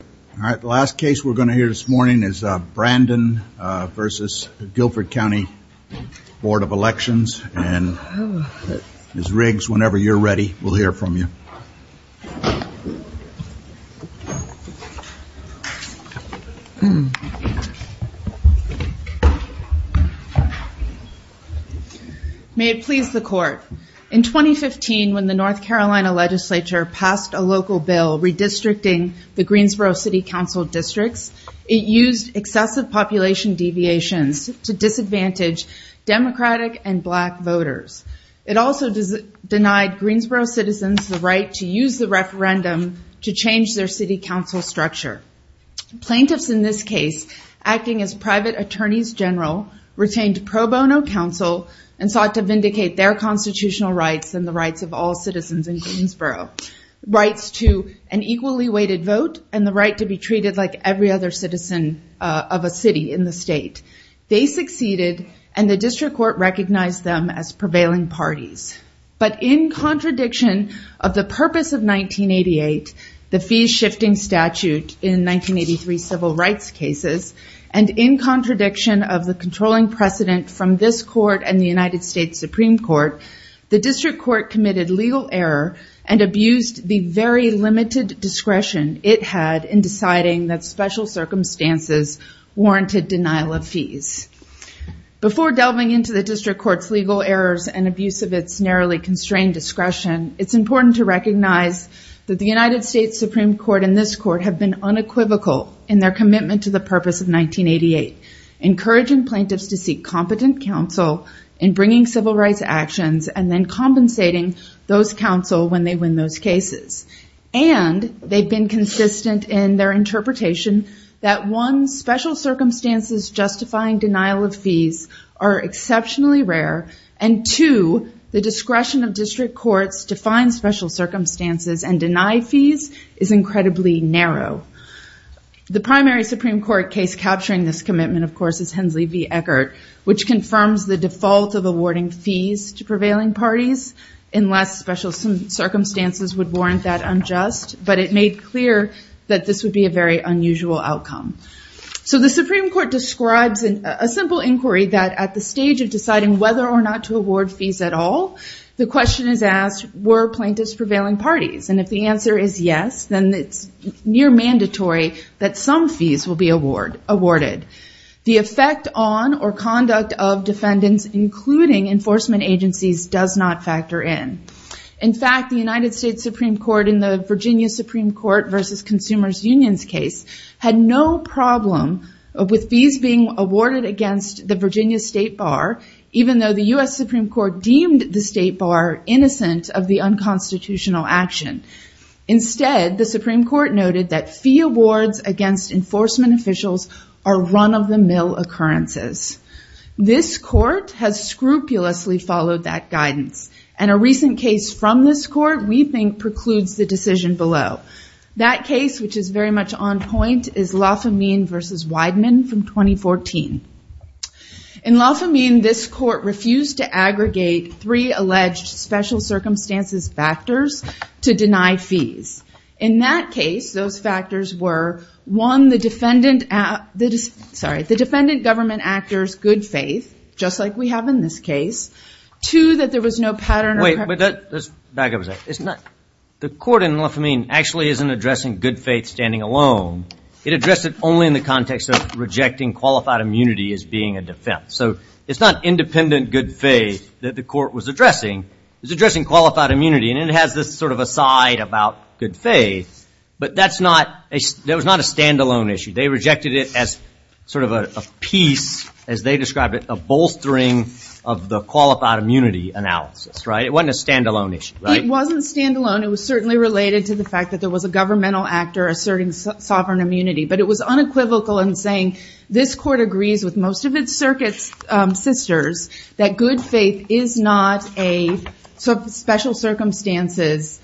All right, the last case we're going to hear this morning is Brandon v. Guilford County Board of Elections, and Ms. Riggs, whenever you're ready, we'll hear from you. May it please the Court. In 2015, when the North Carolina legislature passed a local bill redistricting the Greensboro City Council districts, it used excessive population deviations to disadvantage Democratic and Black voters. It also denied Greensboro citizens the right to use the referendum to change their city council structure. Plaintiffs in this case, acting as private attorneys general, retained pro bono counsel and sought to vindicate their constitutional rights and the rights of all citizens in Greensboro. Rights to an equally weighted vote and the right to be treated like every other citizen of a city in the state. They succeeded, and the district court recognized them as prevailing parties. But in contradiction of the purpose of 1988, the fee-shifting statute in 1983 civil rights cases, and in contradiction of the controlling precedent from this court and the United States Supreme Court, the district court committed legal error and abused the very limited discretion it had in deciding that special circumstances warranted denial of fees. Before delving into the district court's legal errors and abuse of its narrowly constrained discretion, it's important to recognize that the United States Supreme Court and this court have been unequivocal in their commitment to the purpose of 1988, encouraging plaintiffs to seek competent counsel in bringing civil rights actions and then compensating those counsel when they win those cases. And they've been consistent in their interpretation that one, special circumstances justifying denial of fees are exceptionally rare, and two, the discretion of district courts to find special circumstances and deny fees is incredibly narrow. The primary Supreme Court case capturing this commitment, of course, is Hensley v. Eckert, which confirms the default of awarding fees to prevailing parties unless special circumstances would warrant that unjust, but it made clear that this would be a very unusual outcome. So the Supreme Court describes a simple inquiry that at the stage of deciding whether or not to award fees at all, the question is asked, were plaintiffs prevailing parties? And if the answer is yes, then it's near mandatory that some fees will be awarded. The effect on or conduct of defendants, including enforcement agencies, does not factor in. In fact, the United States Supreme Court in the Virginia Supreme Court v. Consumers Unions case had no problem with fees being awarded against the Virginia State Bar, even though the U.S. Supreme Court deemed the State Bar innocent of the unconstitutional action. Instead, the Supreme Court noted that fee awards against enforcement officials are run-of-the-mill occurrences. This court has scrupulously followed that guidance, and a recent case from this court we think precludes the decision below. That case, which is very much on point, is Lafamine v. Weidman from 2014. In Lafamine, this court refused to aggregate three alleged special circumstances factors to deny fees. In that case, those factors were, one, the defendant government actor's good faith, just like we have in this case, two, that there was no pattern of preference. The court in Lafamine actually isn't addressing good faith standing alone. It addressed it only in the context of rejecting qualified immunity as being a defense. So it's not independent good faith that the court was addressing. It was addressing qualified immunity. And it has this sort of aside about good faith, but that was not a stand-alone issue. They rejected it as sort of a piece, as they described it, a bolstering of the qualified immunity analysis. It wasn't a stand-alone issue. It wasn't stand-alone. It was certainly related to the fact that there was a governmental actor asserting sovereign immunity. But it was unequivocal in saying this court agrees with most of its circuit sisters that good faith is not a special circumstances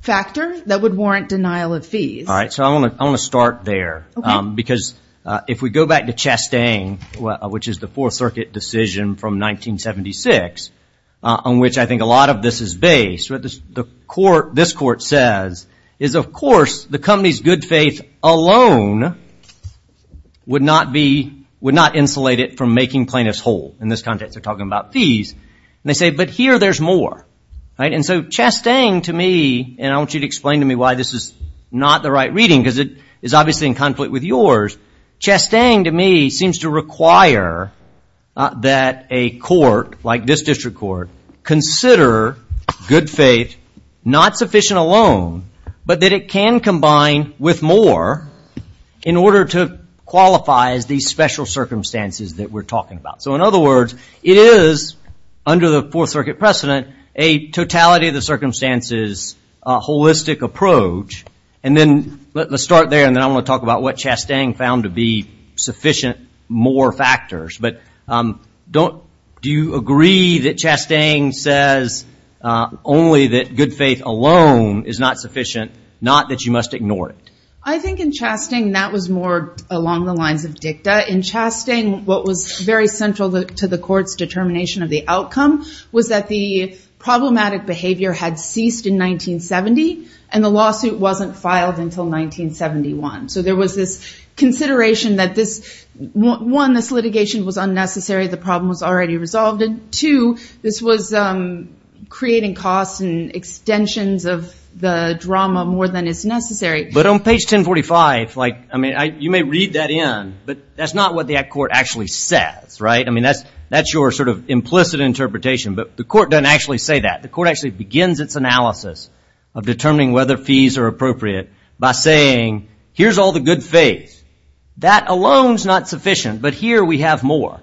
factor that would warrant denial of fees. All right, so I want to start there. Because if we go back to Chastain, which is the Fourth Circuit decision from 1976, on which I think a lot of this is based, what this court says is, of course, the company's good faith alone would not insulate it from making plaintiffs whole. In this context, they're talking about fees. And they say, but here there's more. And so Chastain, to me, and I want you to explain to me why this is not the right reading, because it is obviously in conflict with yours. Chastain, to me, seems to require that a court, like this district court, consider good faith not sufficient alone, but that it can combine with more in order to qualify as these special circumstances that we're talking about. So in other words, it is, under the Fourth Circuit precedent, a totality of the circumstances holistic approach. And then let's start there. And then I want to talk about what Chastain found to be sufficient more factors. But do you agree that Chastain says only that good faith alone is not sufficient, not that you must ignore it? I think in Chastain, that was more along the lines of dicta. In Chastain, what was very central to the court's determination of the outcome was that the problematic behavior had ceased in 1970. And the lawsuit wasn't filed until 1971. So there was this consideration that this, one, this litigation was unnecessary, the problem was already resolved. And two, this was creating costs and extensions of the drama more than is necessary. But on page 1045, like, I mean, you may read that in. But that's not what the court actually says, right? I mean, that's your sort of implicit interpretation. But the court doesn't actually say that. The court actually begins its analysis of determining whether fees are appropriate by saying, here's all the good faith. That alone's not sufficient, but here we have more.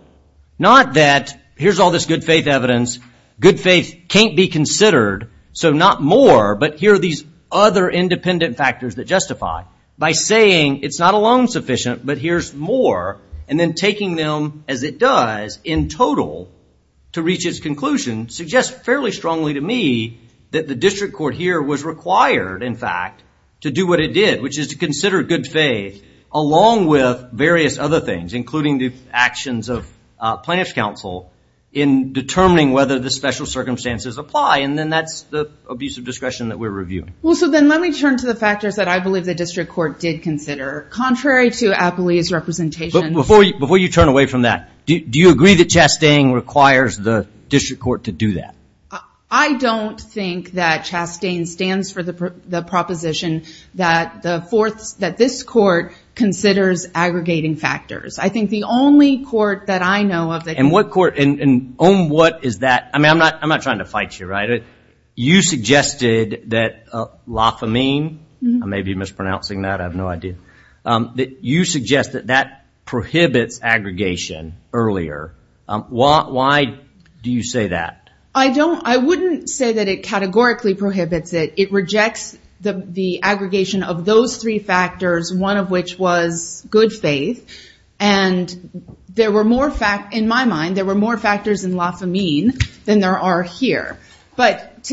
Not that, here's all this good faith evidence. Good faith can't be considered, so not more, but here are these other independent factors that justify. By saying it's not alone sufficient, but here's more, and then taking them as it does in total to reach its conclusion, suggests fairly strongly to me that the district court here was required, in fact, to do what it did, which is to consider good faith along with various other things, including the actions of Chastain. Plaintiff's counsel in determining whether the special circumstances apply, and then that's the abuse of discretion that we're reviewing. Well, so then let me turn to the factors that I believe the district court did consider. Contrary to Apley's representation. But before you turn away from that, do you agree that Chastain requires the district court to do that? I don't think that Chastain stands for the proposition that this court considers aggregating factors. I think the only court that I know of that- And what court, and on what is that, I mean, I'm not trying to fight you, right? You suggested that lafamine, I may be mispronouncing that, I have no idea, that you suggest that that prohibits aggregation earlier. Why do you say that? I wouldn't say that it categorically prohibits it. It rejects the aggregation of those three factors, one of which was good faith. And there were more factors, in my mind, there were more factors in lafamine than there are here. But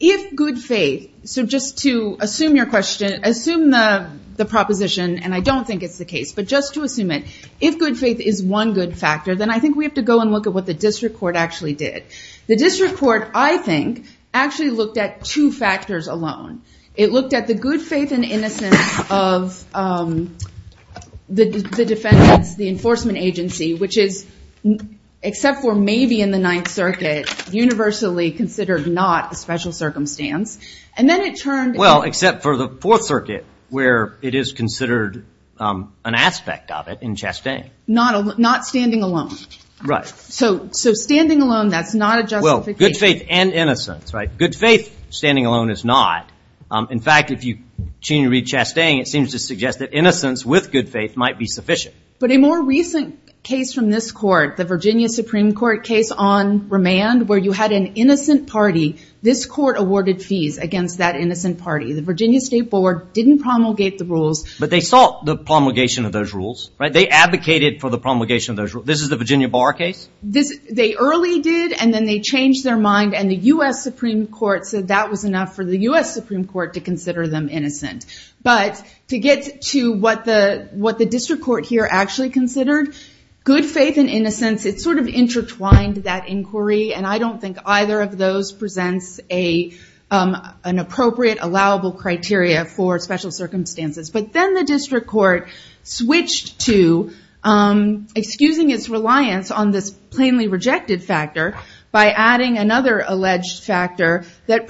if good faith, so just to assume your question, assume the proposition, and I don't think it's the case, but just to assume it. If good faith is one good factor, then I think we have to go and look at what the district court actually did. The district court, I think, actually looked at two factors alone. It looked at the good faith and innocence of the defense, the enforcement agency, which is, except for maybe in the Ninth Circuit, universally considered not a special circumstance. And then it turned- Well, except for the Fourth Circuit, where it is considered an aspect of it in Chastain. Not standing alone. Right. So standing alone, that's not a justification. Good faith and innocence. Good faith standing alone is not. In fact, if you continue to read Chastain, it seems to suggest that innocence with good faith might be sufficient. But a more recent case from this court, the Virginia Supreme Court case on remand, where you had an innocent party. This court awarded fees against that innocent party. The Virginia State Board didn't promulgate the rules. But they sought the promulgation of those rules. They advocated for the promulgation of those rules. This is the Virginia Bar case? They early did, and then they changed their mind. And the U.S. Supreme Court said that was enough for the U.S. Supreme Court to consider them innocent. But to get to what the district court here actually considered, good faith and innocence, it sort of intertwined that inquiry. And I don't think either of those presents an appropriate, allowable criteria for special circumstances. But then the district court switched to excusing its reliance on this plainly rejected factor by adding another alleged factor that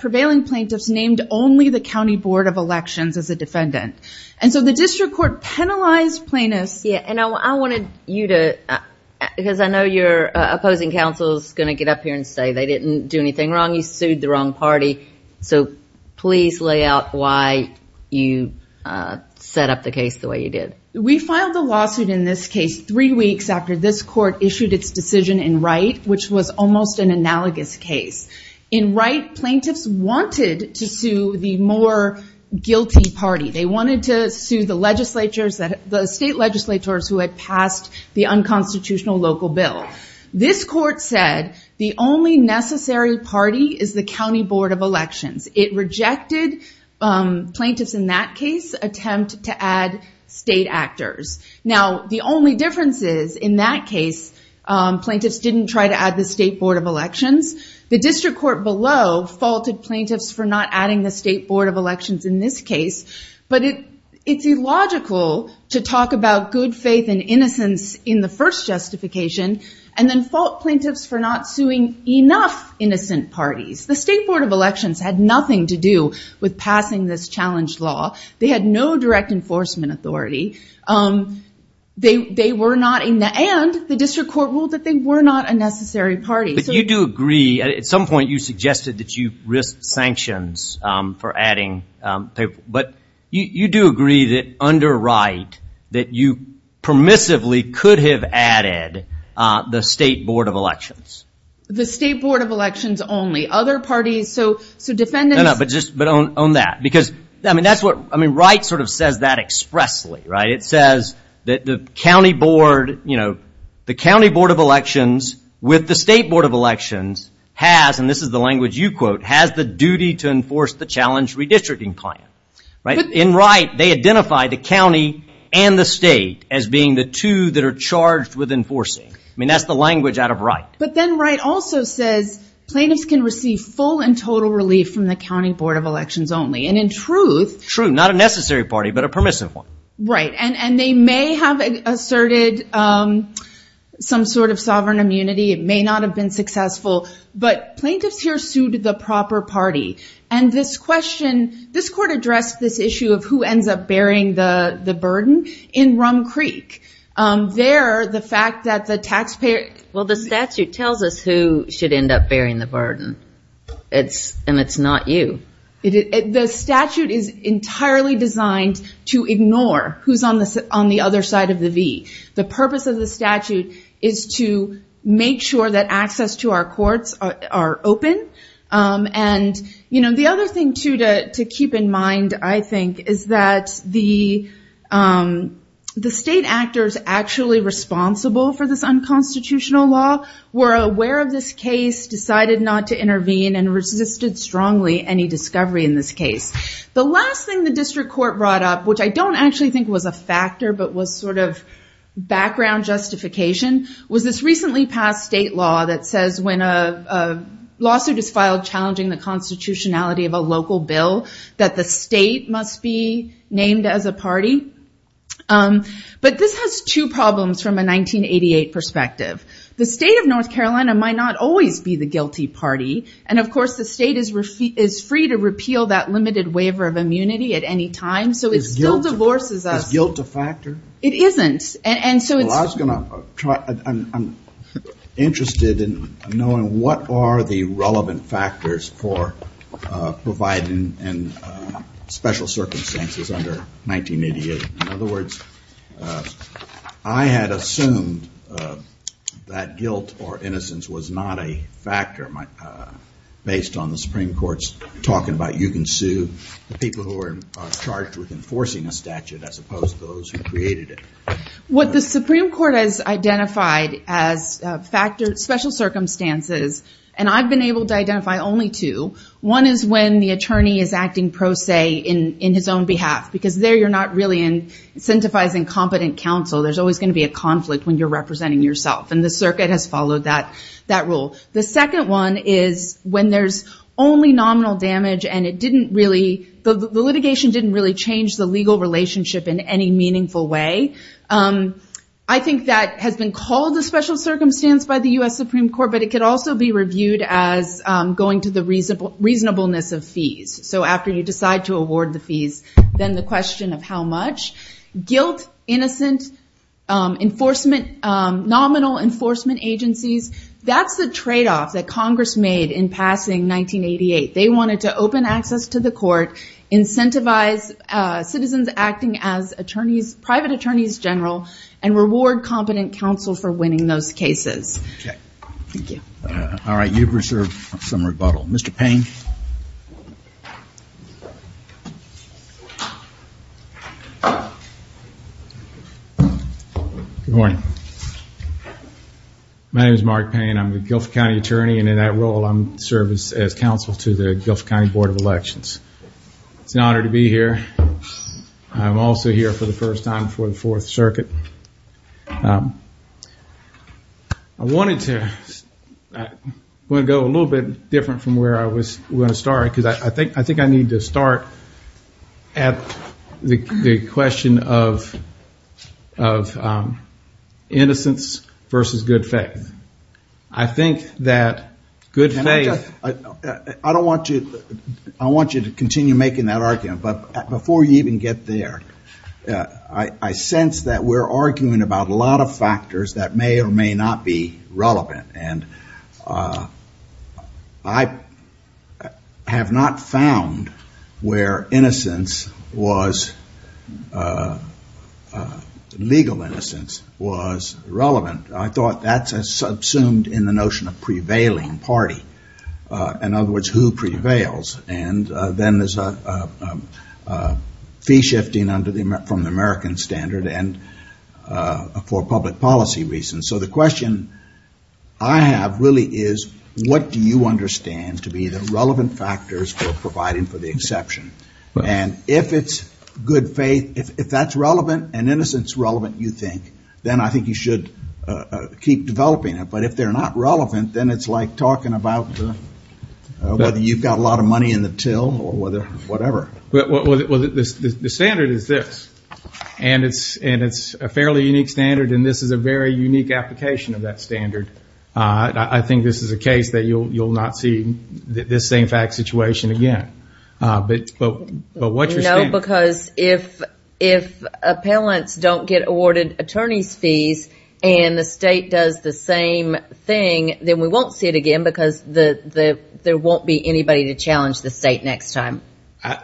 prevailing plaintiffs named only the county board of elections as a defendant. And so the district court penalized plaintiffs. Yeah, and I wanted you to, because I know your opposing counsel is going to get up here and say they didn't do anything wrong. You sued the wrong party. So please lay out why you set up the case the way you did. We filed a lawsuit in this case three weeks after this court issued its decision in Wright, which was almost an analogous case. In Wright, plaintiffs wanted to sue the more guilty party. They wanted to sue the state legislators who had passed the unconstitutional local bill. This court said the only necessary party is the county board of elections. It rejected plaintiffs in that case attempt to add state actors. Now, the only difference is in that case, plaintiffs didn't try to add the state board of elections. The district court below faulted plaintiffs for not adding the state board of elections in this case. But it's illogical to talk about good faith and innocence in the first justification, and then fault plaintiffs for not suing enough innocent parties. The state board of elections had nothing to do with passing this challenge law. They had no direct enforcement authority. They were not, and the district court ruled that they were not a necessary party. At some point, you suggested that you risk sanctions for adding. But you do agree that under Wright, that you permissively could have added the state board of elections? The state board of elections only. Other parties, so defendants... No, no, but on that, because Wright sort of says that expressly, right? He says that the county board of elections with the state board of elections has, and this is the language you quote, has the duty to enforce the challenge redistricting plan. In Wright, they identify the county and the state as being the two that are charged with enforcing. I mean, that's the language out of Wright. But then Wright also says plaintiffs can receive full and total relief from the county board of elections only. And in truth... True, not a necessary party, but a permissive one. Right, and they may have asserted some sort of sovereign immunity. It may not have been successful, but plaintiffs here sued the proper party. And this question, this court addressed this issue of who ends up bearing the burden in Rum Creek. There, the fact that the taxpayer... Well, the statute tells us who should end up bearing the burden, and it's not you. The statute is entirely designed to ignore who's on the other side of the V. The purpose of the statute is to make sure that access to our courts are open. And the other thing, too, to keep in mind, I think, is that the state actors actually responsible for this unconstitutional law were aware of this case, decided not to intervene, and resisted strongly any discovery in this case. The last thing the district court brought up, which I don't actually think was a factor, but was sort of background justification, was this recently passed state law that says when a lawsuit is filed challenging the constitutionality of a local bill, that the state must be named as a party. But this has two problems from a 1988 perspective. The state of North Carolina might not always be the guilty party, and of course the state is free to repeal that limited waiver of immunity at any time, so it still divorces us. Is guilt a factor? It isn't. Well, I was going to try... I'm interested in knowing what are the relevant factors for providing special circumstances under 1988. In other words, I had assumed that guilt or innocence was not a factor based on the Supreme Court's talking about you can sue the people who are charged with enforcing a statute as opposed to those who created it. What the Supreme Court has identified as special circumstances, and I've been able to identify only two, one is when the attorney is acting pro se in his own behalf, because there you're not really incentivizing competent counsel. There's always going to be a conflict when you're representing yourself, and the circuit has followed that rule. The second one is when there's only nominal damage, and the litigation didn't really change the legal relationship in any meaningful way. I think that has been called a special circumstance by the U.S. Supreme Court, but it could also be reviewed as going to the reasonableness of fees. After you decide to award the fees, then the question of how much. Guilt, innocent, nominal enforcement agencies, that's the trade-off that Congress made in passing 1988. They wanted to open access to the court, incentivize citizens acting as private attorneys general, and reward competent counsel for winning those cases. Okay. Thank you. All right, you've reserved some rebuttal. Mr. Payne. Good morning. My name is Mark Payne, I'm the Guilford County Attorney, and in that role I serve as counsel to the Guilford County Board of Elections. It's an honor to be here. I'm also here for the first time for the Fourth Circuit. I wanted to go a little bit different from where I was going to start, because I think I need to start at the question of innocence versus good faith. I think that good faith. I want you to continue making that argument, but before you even get there, I sense that we're arguing about a lot of factors that may or may not be relevant, and I have not found where legal innocence was relevant. I thought that's subsumed in the notion of prevailing party. In other words, who prevails. And then there's a fee shifting from the American standard and for public policy reasons. So the question I have really is, what do you understand to be the relevant factors for providing for the exception? And if it's good faith, if that's relevant and innocence is relevant, you think, then I think you should keep developing it. But if they're not relevant, then it's like talking about whether you've got a lot of money in the till or whatever. The standard is this, and it's a fairly unique standard, and this is a very unique application of that standard. I think this is a case that you'll not see this same fact situation again. No, because if appellants don't get awarded attorney's fees and the state does the same thing, then we won't see it again because there won't be anybody to challenge the state next time.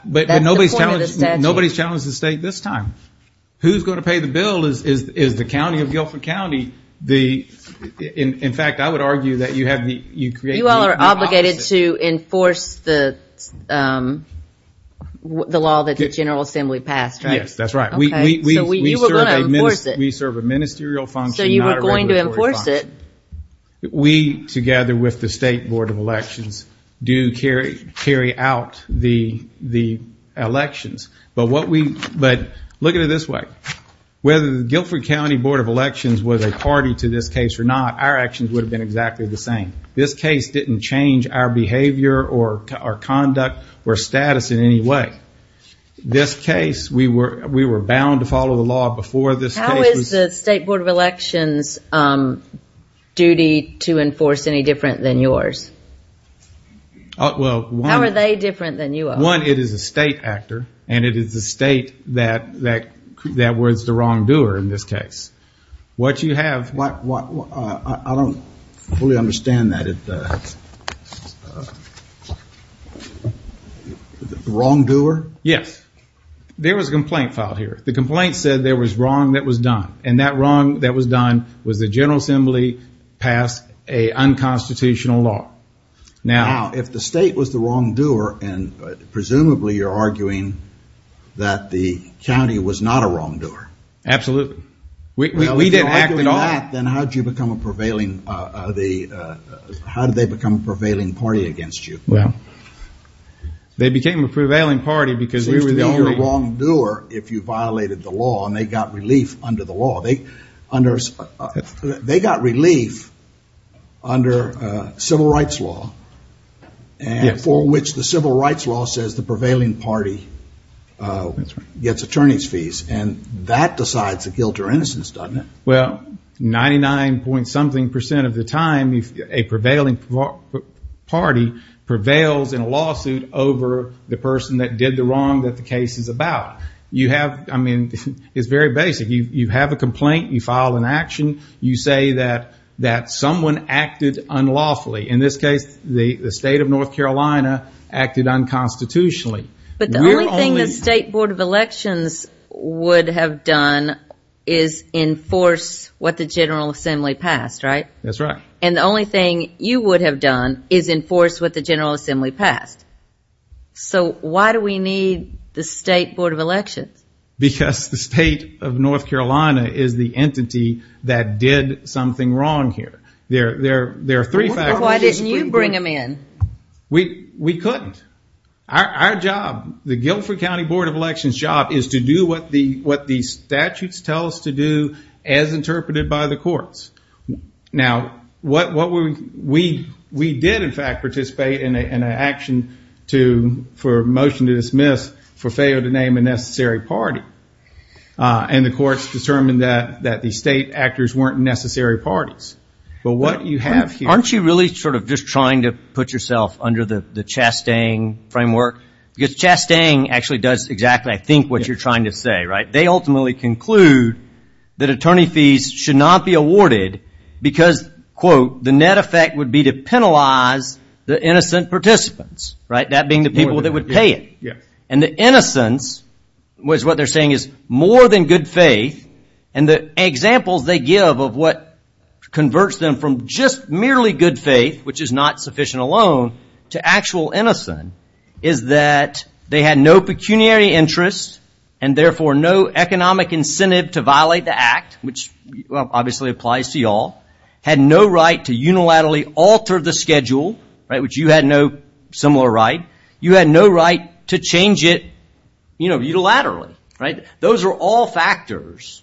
But nobody's challenged the state this time. Who's going to pay the bill is the county of Guilford County. In fact, I would argue that you create the opposite. You're obligated to enforce the law that the General Assembly passed, right? Yes, that's right. So you were going to enforce it. We serve a ministerial function, not a regulatory function. So you were going to enforce it. We, together with the State Board of Elections, do carry out the elections. But look at it this way. Whether the Guilford County Board of Elections was a party to this case or not, our actions would have been exactly the same. This case didn't change our behavior or our conduct or status in any way. This case, we were bound to follow the law before this case. How is the State Board of Elections' duty to enforce any different than yours? How are they different than you are? One, it is a state actor, and it is the state that was the wrongdoer in this case. I don't fully understand that. The wrongdoer? Yes. There was a complaint filed here. The complaint said there was wrong that was done, and that wrong that was done was the General Assembly passed an unconstitutional law. Now, if the state was the wrongdoer, and presumably you're arguing that the county was not a wrongdoer. Absolutely. We didn't act at all. If you're arguing that, then how did they become a prevailing party against you? Well, they became a prevailing party because we were the only. They used to be your wrongdoer if you violated the law, and they got relief under the law. They got relief under civil rights law, for which the civil rights law says the prevailing party gets attorney's fees. And that decides the guilt or innocence, doesn't it? Well, 99-point-something percent of the time, a prevailing party prevails in a lawsuit over the person that did the wrong that the case is about. I mean, it's very basic. You have a complaint. You file an action. You say that someone acted unlawfully. In this case, the state of North Carolina acted unconstitutionally. But the only thing the State Board of Elections would have done is enforce what the General Assembly passed, right? That's right. And the only thing you would have done is enforce what the General Assembly passed. So why do we need the State Board of Elections? Because the state of North Carolina is the entity that did something wrong here. There are three factors. Why didn't you bring them in? We couldn't. Our job, the Guilford County Board of Elections' job, is to do what the statutes tell us to do as interpreted by the courts. Now, we did, in fact, participate in an action for a motion to dismiss for failure to name a necessary party. And the courts determined that the state actors weren't necessary parties. Aren't you really sort of just trying to put yourself under the Chastang framework? Because Chastang actually does exactly, I think, what you're trying to say, right? They ultimately conclude that attorney fees should not be awarded because, quote, the net effect would be to penalize the innocent participants, right, that being the people that would pay it. And the innocence is what they're saying is more than good faith. And the examples they give of what converts them from just merely good faith, which is not sufficient alone, to actual innocence is that they had no pecuniary interest and, therefore, no economic incentive to violate the act, which obviously applies to you all, had no right to unilaterally alter the schedule, right, which you had no similar right. You had no right to change it, you know, unilaterally, right? Those are all factors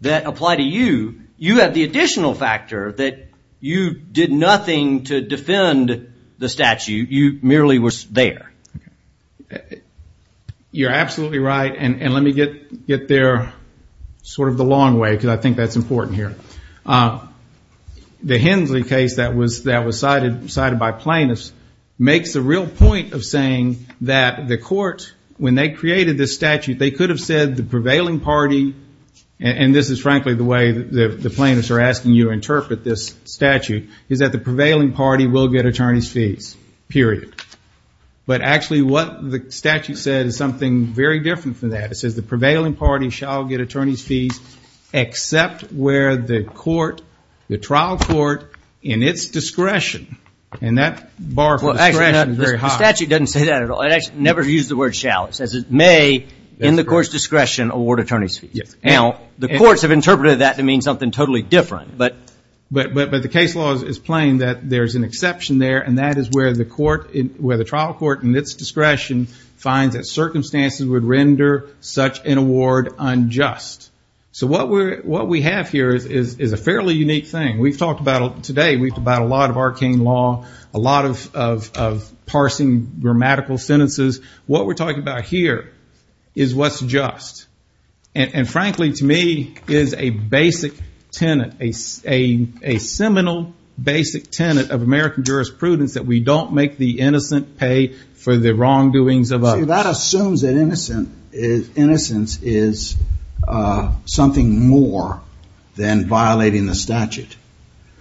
that apply to you. You have the additional factor that you did nothing to defend the statute. You merely were there. You're absolutely right. And let me get there sort of the long way because I think that's important here. The Hensley case that was cited by plaintiffs makes the real point of saying that the court, when they created this statute, they could have said the prevailing party, and this is frankly the way the plaintiffs are asking you to interpret this statute, is that the prevailing party will get attorney's fees, period. But actually what the statute said is something very different from that. It says the prevailing party shall get attorney's fees except where the court, the trial court, in its discretion. And that bar for discretion is very high. The statute doesn't say that at all. It never used the word shall. It says it may, in the court's discretion, award attorney's fees. Now, the courts have interpreted that to mean something totally different. But the case law is plain that there's an exception there, and that is where the trial court, in its discretion, finds that circumstances would render such an award unjust. So what we have here is a fairly unique thing. Today we've talked about a lot of arcane law, a lot of parsing grammatical sentences. What we're talking about here is what's just. And frankly, to me, is a basic tenet, a seminal basic tenet of American jurisprudence, that we don't make the innocent pay for the wrongdoings of others. See, that assumes that innocence is something more than violating the statute.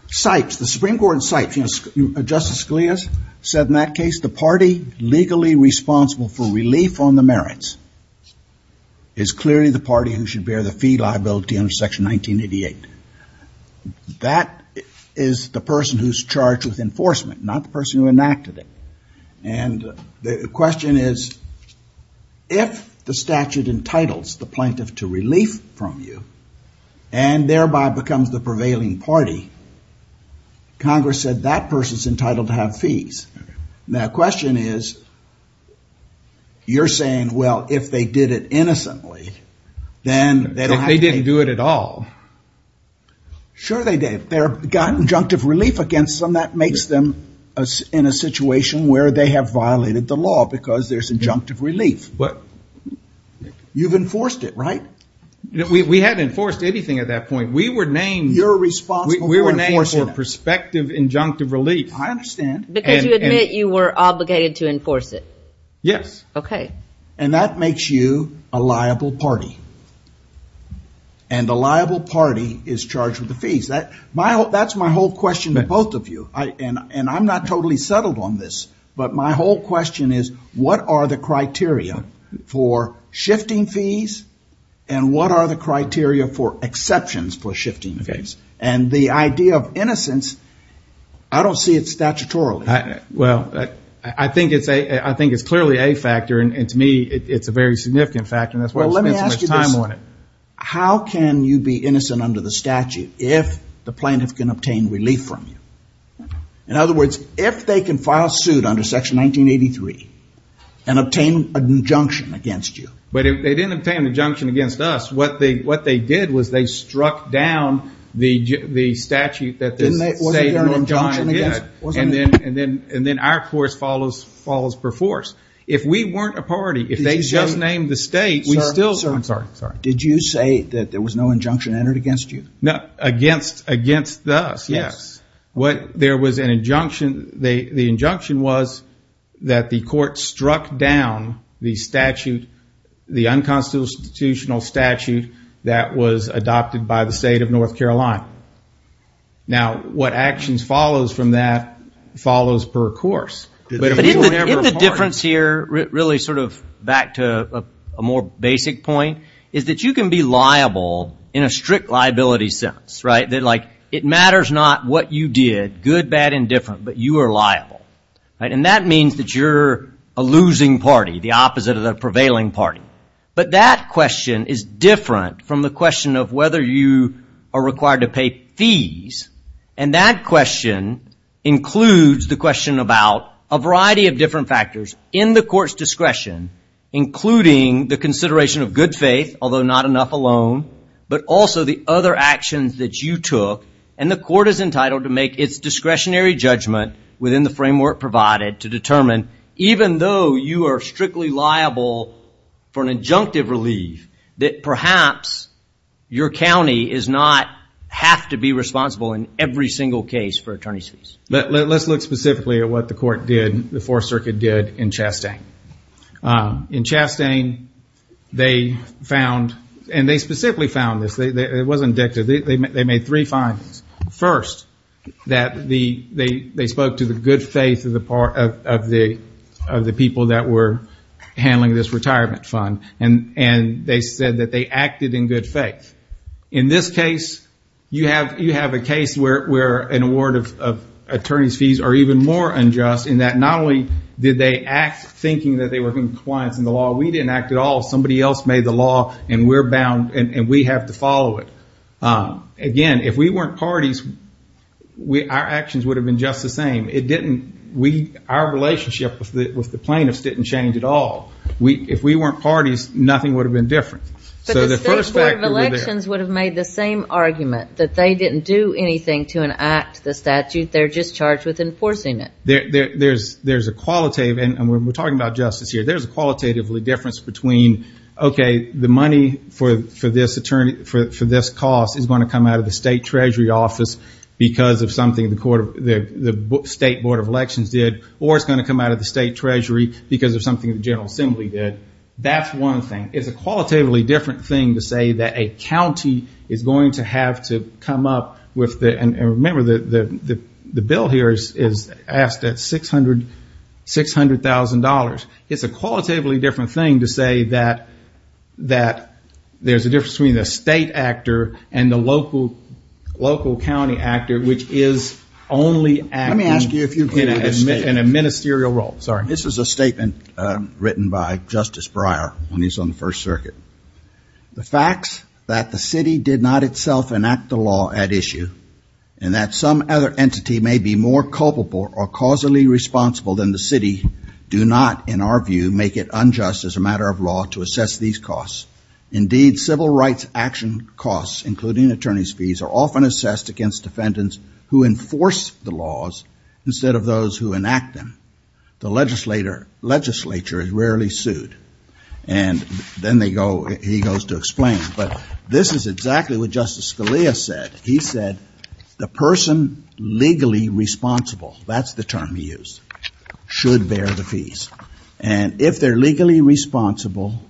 The Supreme Court in Sipes, Justice Scalia said in that case, the party legally responsible for relief on the merits is clearly the party who should bear the fee liability under Section 1988. That is the person who's charged with enforcement, not the person who enacted it. And the question is, if the statute entitles the plaintiff to relief from you and thereby becomes the prevailing party, Congress said that person's entitled to have fees. Now, the question is, you're saying, well, if they did it innocently, then they don't have to pay. They didn't do it at all. Sure they did. They got injunctive relief against them. That makes them in a situation where they have violated the law because there's injunctive relief. But. You've enforced it, right? We haven't enforced anything at that point. We were named. You're responsible for enforcing it. We were named for prospective injunctive relief. I understand. Because you admit you were obligated to enforce it. Yes. Okay. And that makes you a liable party. And the liable party is charged with the fees. That's my whole question to both of you. And I'm not totally settled on this. But my whole question is, what are the criteria for shifting fees and what are the criteria for exceptions for shifting fees? And the idea of innocence, I don't see it statutorily. Well, I think it's clearly a factor. And to me, it's a very significant factor. And that's why we spend so much time on it. Well, let me ask you this. How can you be innocent under the statute if the plaintiff can obtain relief from you? In other words, if they can file suit under Section 1983 and obtain injunction against you. But if they didn't obtain injunction against us, what they did was they struck down the statute that the State of North Carolina did. Wasn't there an injunction against? And then our course follows per force. If we weren't a party, if they just named the State, we still – Sir. I'm sorry. Did you say that there was no injunction entered against you? Against us, yes. There was an injunction. And the injunction was that the court struck down the statute, the unconstitutional statute that was adopted by the State of North Carolina. Now, what actions follows from that follows per course. But isn't the difference here, really sort of back to a more basic point, is that you can be liable in a strict liability sense, right? That, like, it matters not what you did, good, bad, indifferent, but you are liable. And that means that you're a losing party, the opposite of the prevailing party. But that question is different from the question of whether you are required to pay fees. And that question includes the question about a variety of different factors in the court's discretion, including the consideration of good faith, although not enough alone, but also the other actions that you took. And the court is entitled to make its discretionary judgment within the framework provided to determine, even though you are strictly liable for an injunctive relief, that perhaps your county does not have to be responsible in every single case for attorney's fees. Let's look specifically at what the court did, the Fourth Circuit did, in Chastain. In Chastain, they found, and they specifically found this, it wasn't dictated, they made three findings. First, that they spoke to the good faith of the people that were handling this retirement fund, and they said that they acted in good faith. In this case, you have a case where an award of attorney's fees are even more unjust, in that not only did they act thinking that they were in compliance with the law, we didn't act at all. Somebody else made the law, and we're bound, and we have to follow it. Again, if we weren't parties, our actions would have been just the same. Our relationship with the plaintiffs didn't change at all. If we weren't parties, nothing would have been different. So the first factor was there. But the State Board of Elections would have made the same argument, that they didn't do anything to enact the statute, they're just charged with enforcing it. There's a qualitative, and we're talking about justice here, there's a qualitative difference between, okay, the money for this cost is going to come out of the State Treasury office because of something the State Board of Elections did, or it's going to come out of the State Treasury because of something the General Assembly did. That's one thing. And it's a qualitatively different thing to say that a county is going to have to come up with the, and remember the bill here is asked at $600,000. It's a qualitatively different thing to say that there's a difference between the state actor and the local county actor, which is only acting in a ministerial role. This is a statement written by Justice Breyer when he was on the First Circuit. The facts that the city did not itself enact the law at issue, and that some other entity may be more culpable or causally responsible than the city, do not, in our view, make it unjust as a matter of law to assess these costs. Indeed, civil rights action costs, including attorney's fees, are often assessed against defendants who enforce the laws instead of those who enact them. The legislature is rarely sued, and then he goes to explain. But this is exactly what Justice Scalia said. He said the person legally responsible, that's the term he used, should bear the fees. And if they're legally responsible,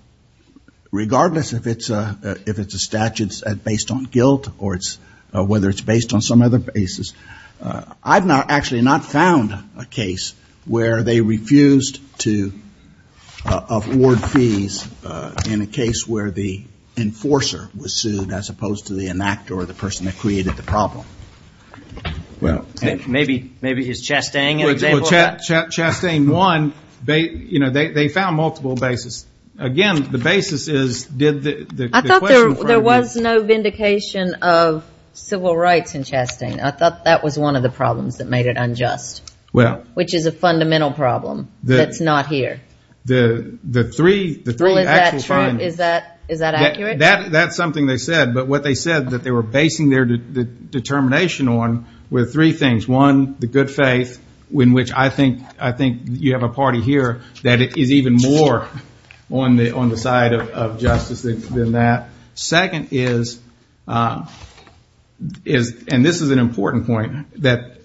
regardless if it's a statute based on guilt or whether it's based on some other basis, I've actually not found a case where they refused to award fees in a case where the enforcer was sued, as opposed to the enactor or the person that created the problem. Maybe it's Chastain. Chastain won. They found multiple basis. There was no vindication of civil rights in Chastain. I thought that was one of the problems that made it unjust, which is a fundamental problem that's not here. The three actual funds. Is that accurate? That's something they said, but what they said that they were basing their determination on were three things. One, the good faith, in which I think you have a party here that is even more on the side of justice than that. Second is, and this is an important point, that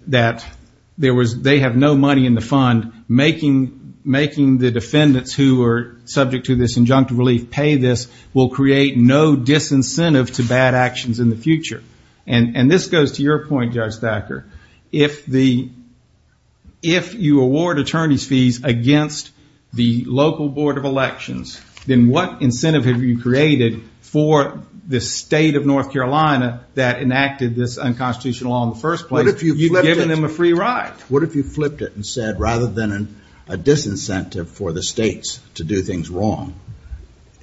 they have no money in the fund. Making the defendants who are subject to this injunctive relief pay this will create no disincentive to bad actions in the future. This goes to your point, Judge Thacker. If you award attorney's fees against the local board of elections, then what incentive have you created for the state of North Carolina that enacted this unconstitutional law in the first place? What if you flipped it and said, rather than a disincentive for the states to do things wrong,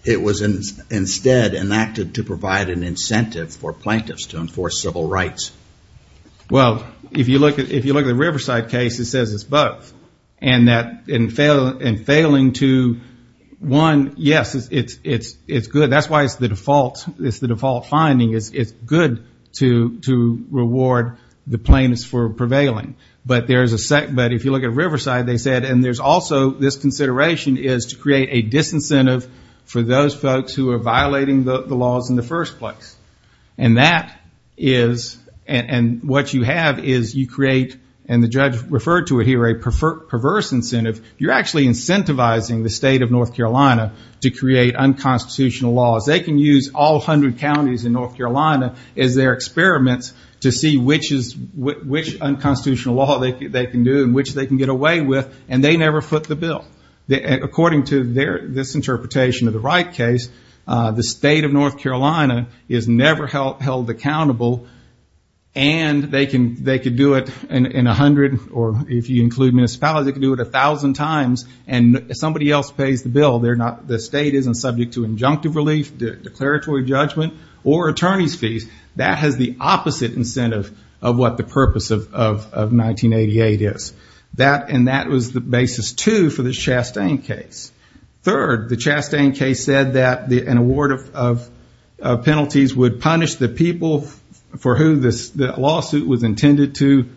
it was instead enacted to provide an incentive for plaintiffs to enforce civil rights? Well, if you look at the Riverside case, it says it's both. In failing to, one, yes, it's good. That's why it's the default finding. It's good to reward the plaintiffs for prevailing. But if you look at Riverside, they said, and there's also this consideration is to create a disincentive for those folks who are violating the laws in the first place. What you have is you create, and the judge referred to it here, a perverse incentive. You're actually incentivizing the state of North Carolina to create unconstitutional laws. They can use all 100 counties in North Carolina as their experiments to see which unconstitutional laws they can use. Which they can get away with, and they never foot the bill. According to this interpretation of the Wright case, the state of North Carolina is never held accountable, and they can do it in 100, or if you include municipalities, they can do it 1,000 times, and somebody else pays the bill. The state isn't subject to injunctive relief, declaratory judgment, or attorney's fees. That has the opposite incentive of what the purpose of 1988 is. And that was the basis, too, for the Chastain case. Third, the Chastain case said that an award of penalties would punish the people for who the lawsuit was intended to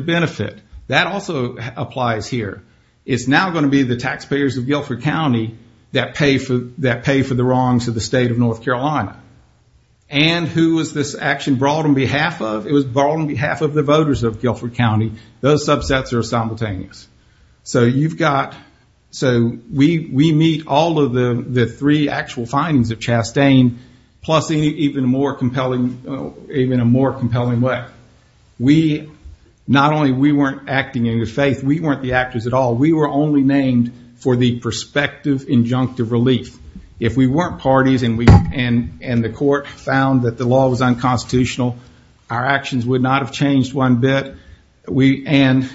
benefit. That also applies here. It's now going to be the taxpayers of Guilford County that pay for the wrongs of the state of North Carolina. And who was this action brought on behalf of? It was brought on behalf of the voters of Guilford County. Those subsets are simultaneous. So we meet all of the three actual findings of Chastain, plus even a more compelling way. Not only we weren't acting in good faith, we weren't the actors at all. We were only named for the prospective injunctive relief. If we weren't parties and the court found that the law was unconstitutional, our actions would not have changed one bit. And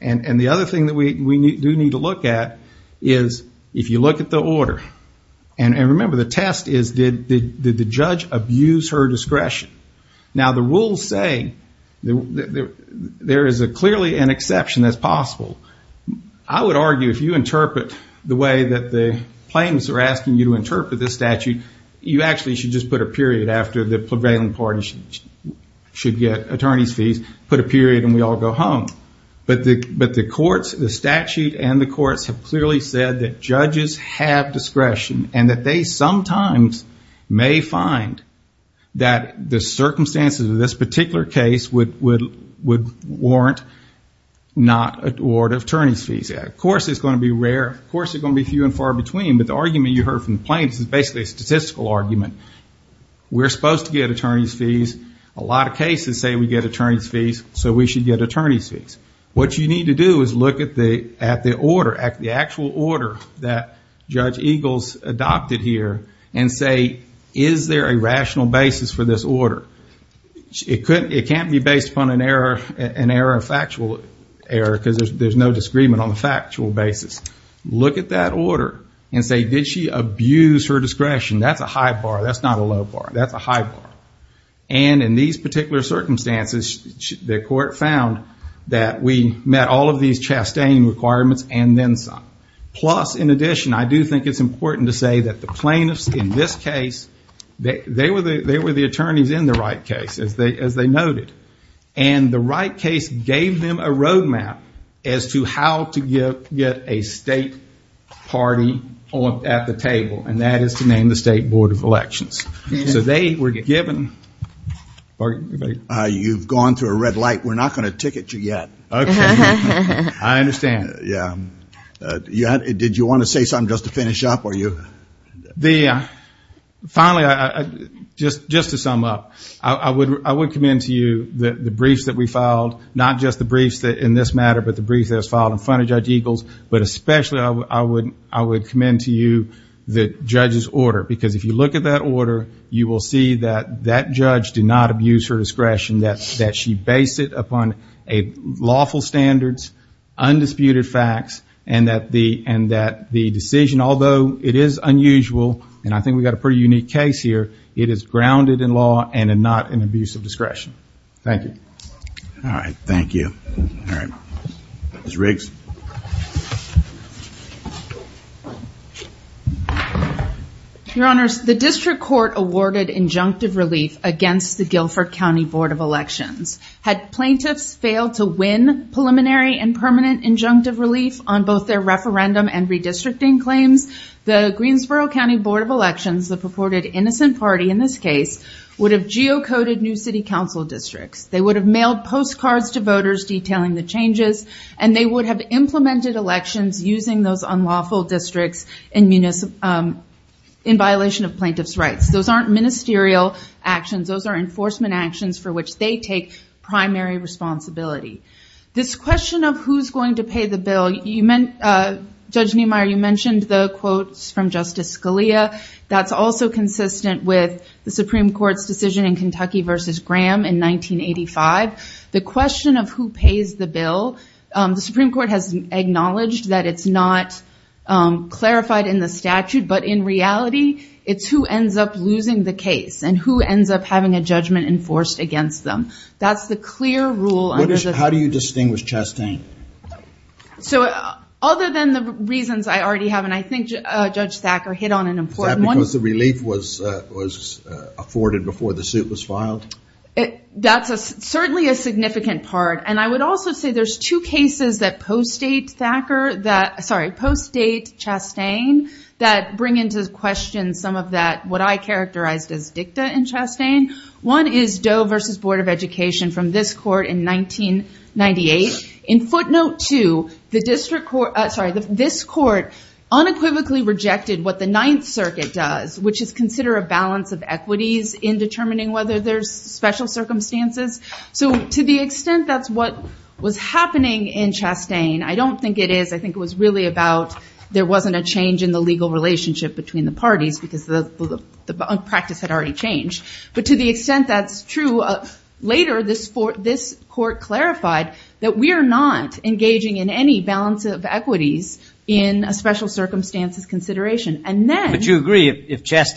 the other thing that we do need to look at is if you look at the order. And remember, the test is did the judge abuse her discretion? Now the rules say there is clearly an exception that's possible. I would argue if you interpret the way that the claims are asking you to interpret this statute, you actually should just put a period after the prevailing parties should get attorney's fees. Put a period and we all go home. But the courts, the statute and the courts have clearly said that judges have discretion. And that they sometimes may find that the circumstances of this particular case would warrant not awarding attorney's fees. Of course it's going to be rare, of course it's going to be few and far between. But the argument you heard from the plaintiffs is basically a statistical argument. A lot of cases say we get attorney's fees, so we should get attorney's fees. What you need to do is look at the order, the actual order that Judge Eagles adopted here and say, is there a rational basis for this order? It can't be based upon an error of factual error because there's no disagreement on the factual basis. Look at that order and say, did she abuse her discretion? That's a high bar, that's not a low bar, that's a high bar. And in these particular circumstances, the court found that we met all of these Chastain requirements and then some. Plus, in addition, I do think it's important to say that the plaintiffs in this case, they were the attorneys in the right case, as they noted. And the right case gave them a road map as to how to get a state party at the table. And that is to name the state board of elections. You've gone through a red light. We're not going to ticket you yet. Did you want to say something just to finish up? Finally, just to sum up, I would commend to you the briefs that we filed. Not just the briefs in this matter, but the briefs that was filed in front of Judge Eagles. But especially, I would commend to you the judge's order. Because if you look at that order, you will see that that judge did not abuse her discretion, that she based it upon lawful standards, undisputed facts, and that the decision, although it is unusual, and I think we've got a pretty unique case here, it is grounded in law and not an abuse of discretion. Thank you. All right. Thank you. Ms. Riggs. Your Honors, the district court awarded injunctive relief against the Guilford County Board of Elections. Had plaintiffs failed to win preliminary and permanent injunctive relief on both their referendum and redistricting claims, the Greensboro County Board of Elections, the purported innocent party in this case, would have geocoded new city council districts. They would have mailed postcards to voters detailing the changes, and they would have implemented elections using those unlawful districts in violation of plaintiff's rights. Those aren't ministerial actions. Those are enforcement actions for which they take primary responsibility. This question of who's going to pay the bill, Judge Niemeyer, you mentioned the quotes from Justice Scalia. That's also consistent with the Supreme Court's decision in Kentucky v. Graham in 1985. The question of who pays the bill, the Supreme Court has acknowledged that it's not clarified in the statute, but in reality, it's who ends up losing the case and who ends up having a judgment enforced against them. That's the clear rule. How do you distinguish Chastain? Other than the reasons I already have, and I think Judge Thacker hit on an important one. Is that because the relief was afforded before the suit was filed? That's certainly a significant part, and I would also say there's two cases that post-date Chastain that bring into question some of what I characterized as dicta in Chastain. One is Doe v. Board of Education from this court in 1998. In footnote two, this court unequivocally rejected what the Ninth Circuit does, which is consider a balance of equities in determining whether there's special circumstances. To the extent that's what was happening in Chastain, I don't think it is. I think it was really about there wasn't a change in the legal relationship between the parties because the practice had already changed. But to the extent that's true, later this court clarified that we are not engaging in any balance of equities in a special circumstances consideration. But you agree if it's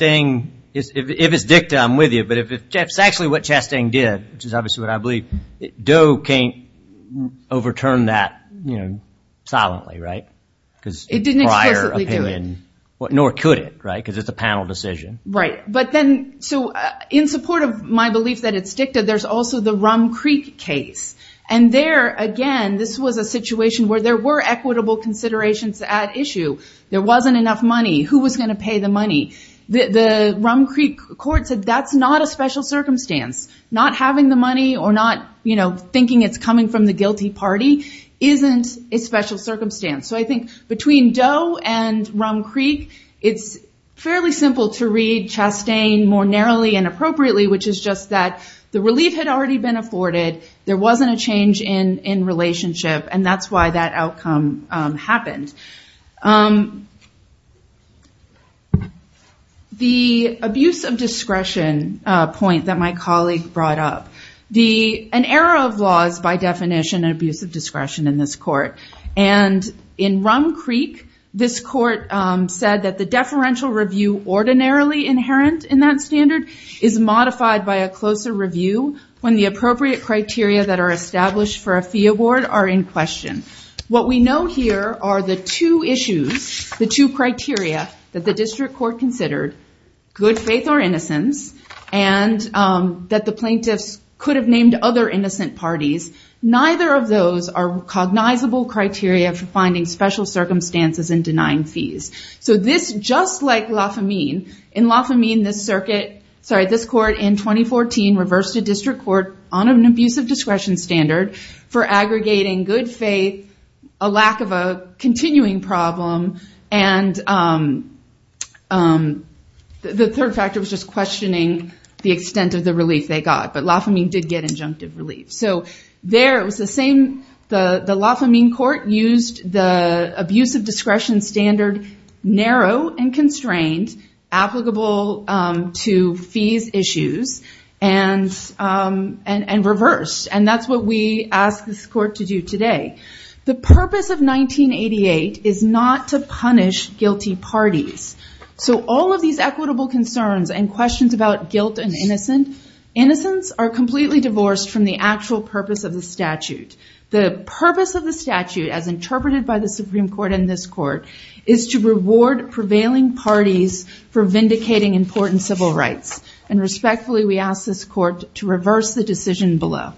dicta, I'm with you, but if it's actually what Chastain did, which is obviously what I believe, Doe can't overturn that silently, right? It didn't explicitly do it. Nor could it, right? Because it's a panel decision. In support of my belief that it's dicta, there's also the Rum Creek case. Again, this was a situation where there were equitable considerations at issue. There wasn't enough money. Who was going to pay the money? The Rum Creek court said that's not a special circumstance. Not having the money or not thinking it's coming from the guilty party isn't a special circumstance. I think between Doe and Rum Creek, it's fairly simple to read Chastain more narrowly and appropriately, which is just that the relief had already been afforded. There wasn't a change in relationship, and that's why that outcome happened. The abuse of discretion point that my colleague brought up. An error of laws, by definition, an abuse of discretion in this court. In Rum Creek, this court said that the deferential review ordinarily inherent in that standard is modified by a closer review when the appropriate criteria that are established for a fee award are in question. What we know here are the two issues, the two criteria that the district court considered, good faith or innocence, and that the plaintiffs could have named other innocent parties. Neither of those are cognizable criteria for finding special circumstances and denying fees. This, just like Lafamine, in Lafamine, this court in 2014 reversed a district court on an abuse of discretion standard for aggregating good faith, a lack of a continuing problem, and the third factor was just questioning the extent of the relief they got. But Lafamine did get injunctive relief. The Lafamine court used the abuse of discretion standard narrow and constrained, applicable to fees issues, and reversed. And that's what we ask this court to do today. The purpose of 1988 is not to punish guilty parties. So all of these equitable concerns and questions about guilt and innocence are completely divorced from the actual purpose of the statute. The purpose of the statute, as interpreted by the Supreme Court in this court, is to reward prevailing parties for vindicating important civil rights. And respectfully, we ask this court to reverse the decision below. Thank you.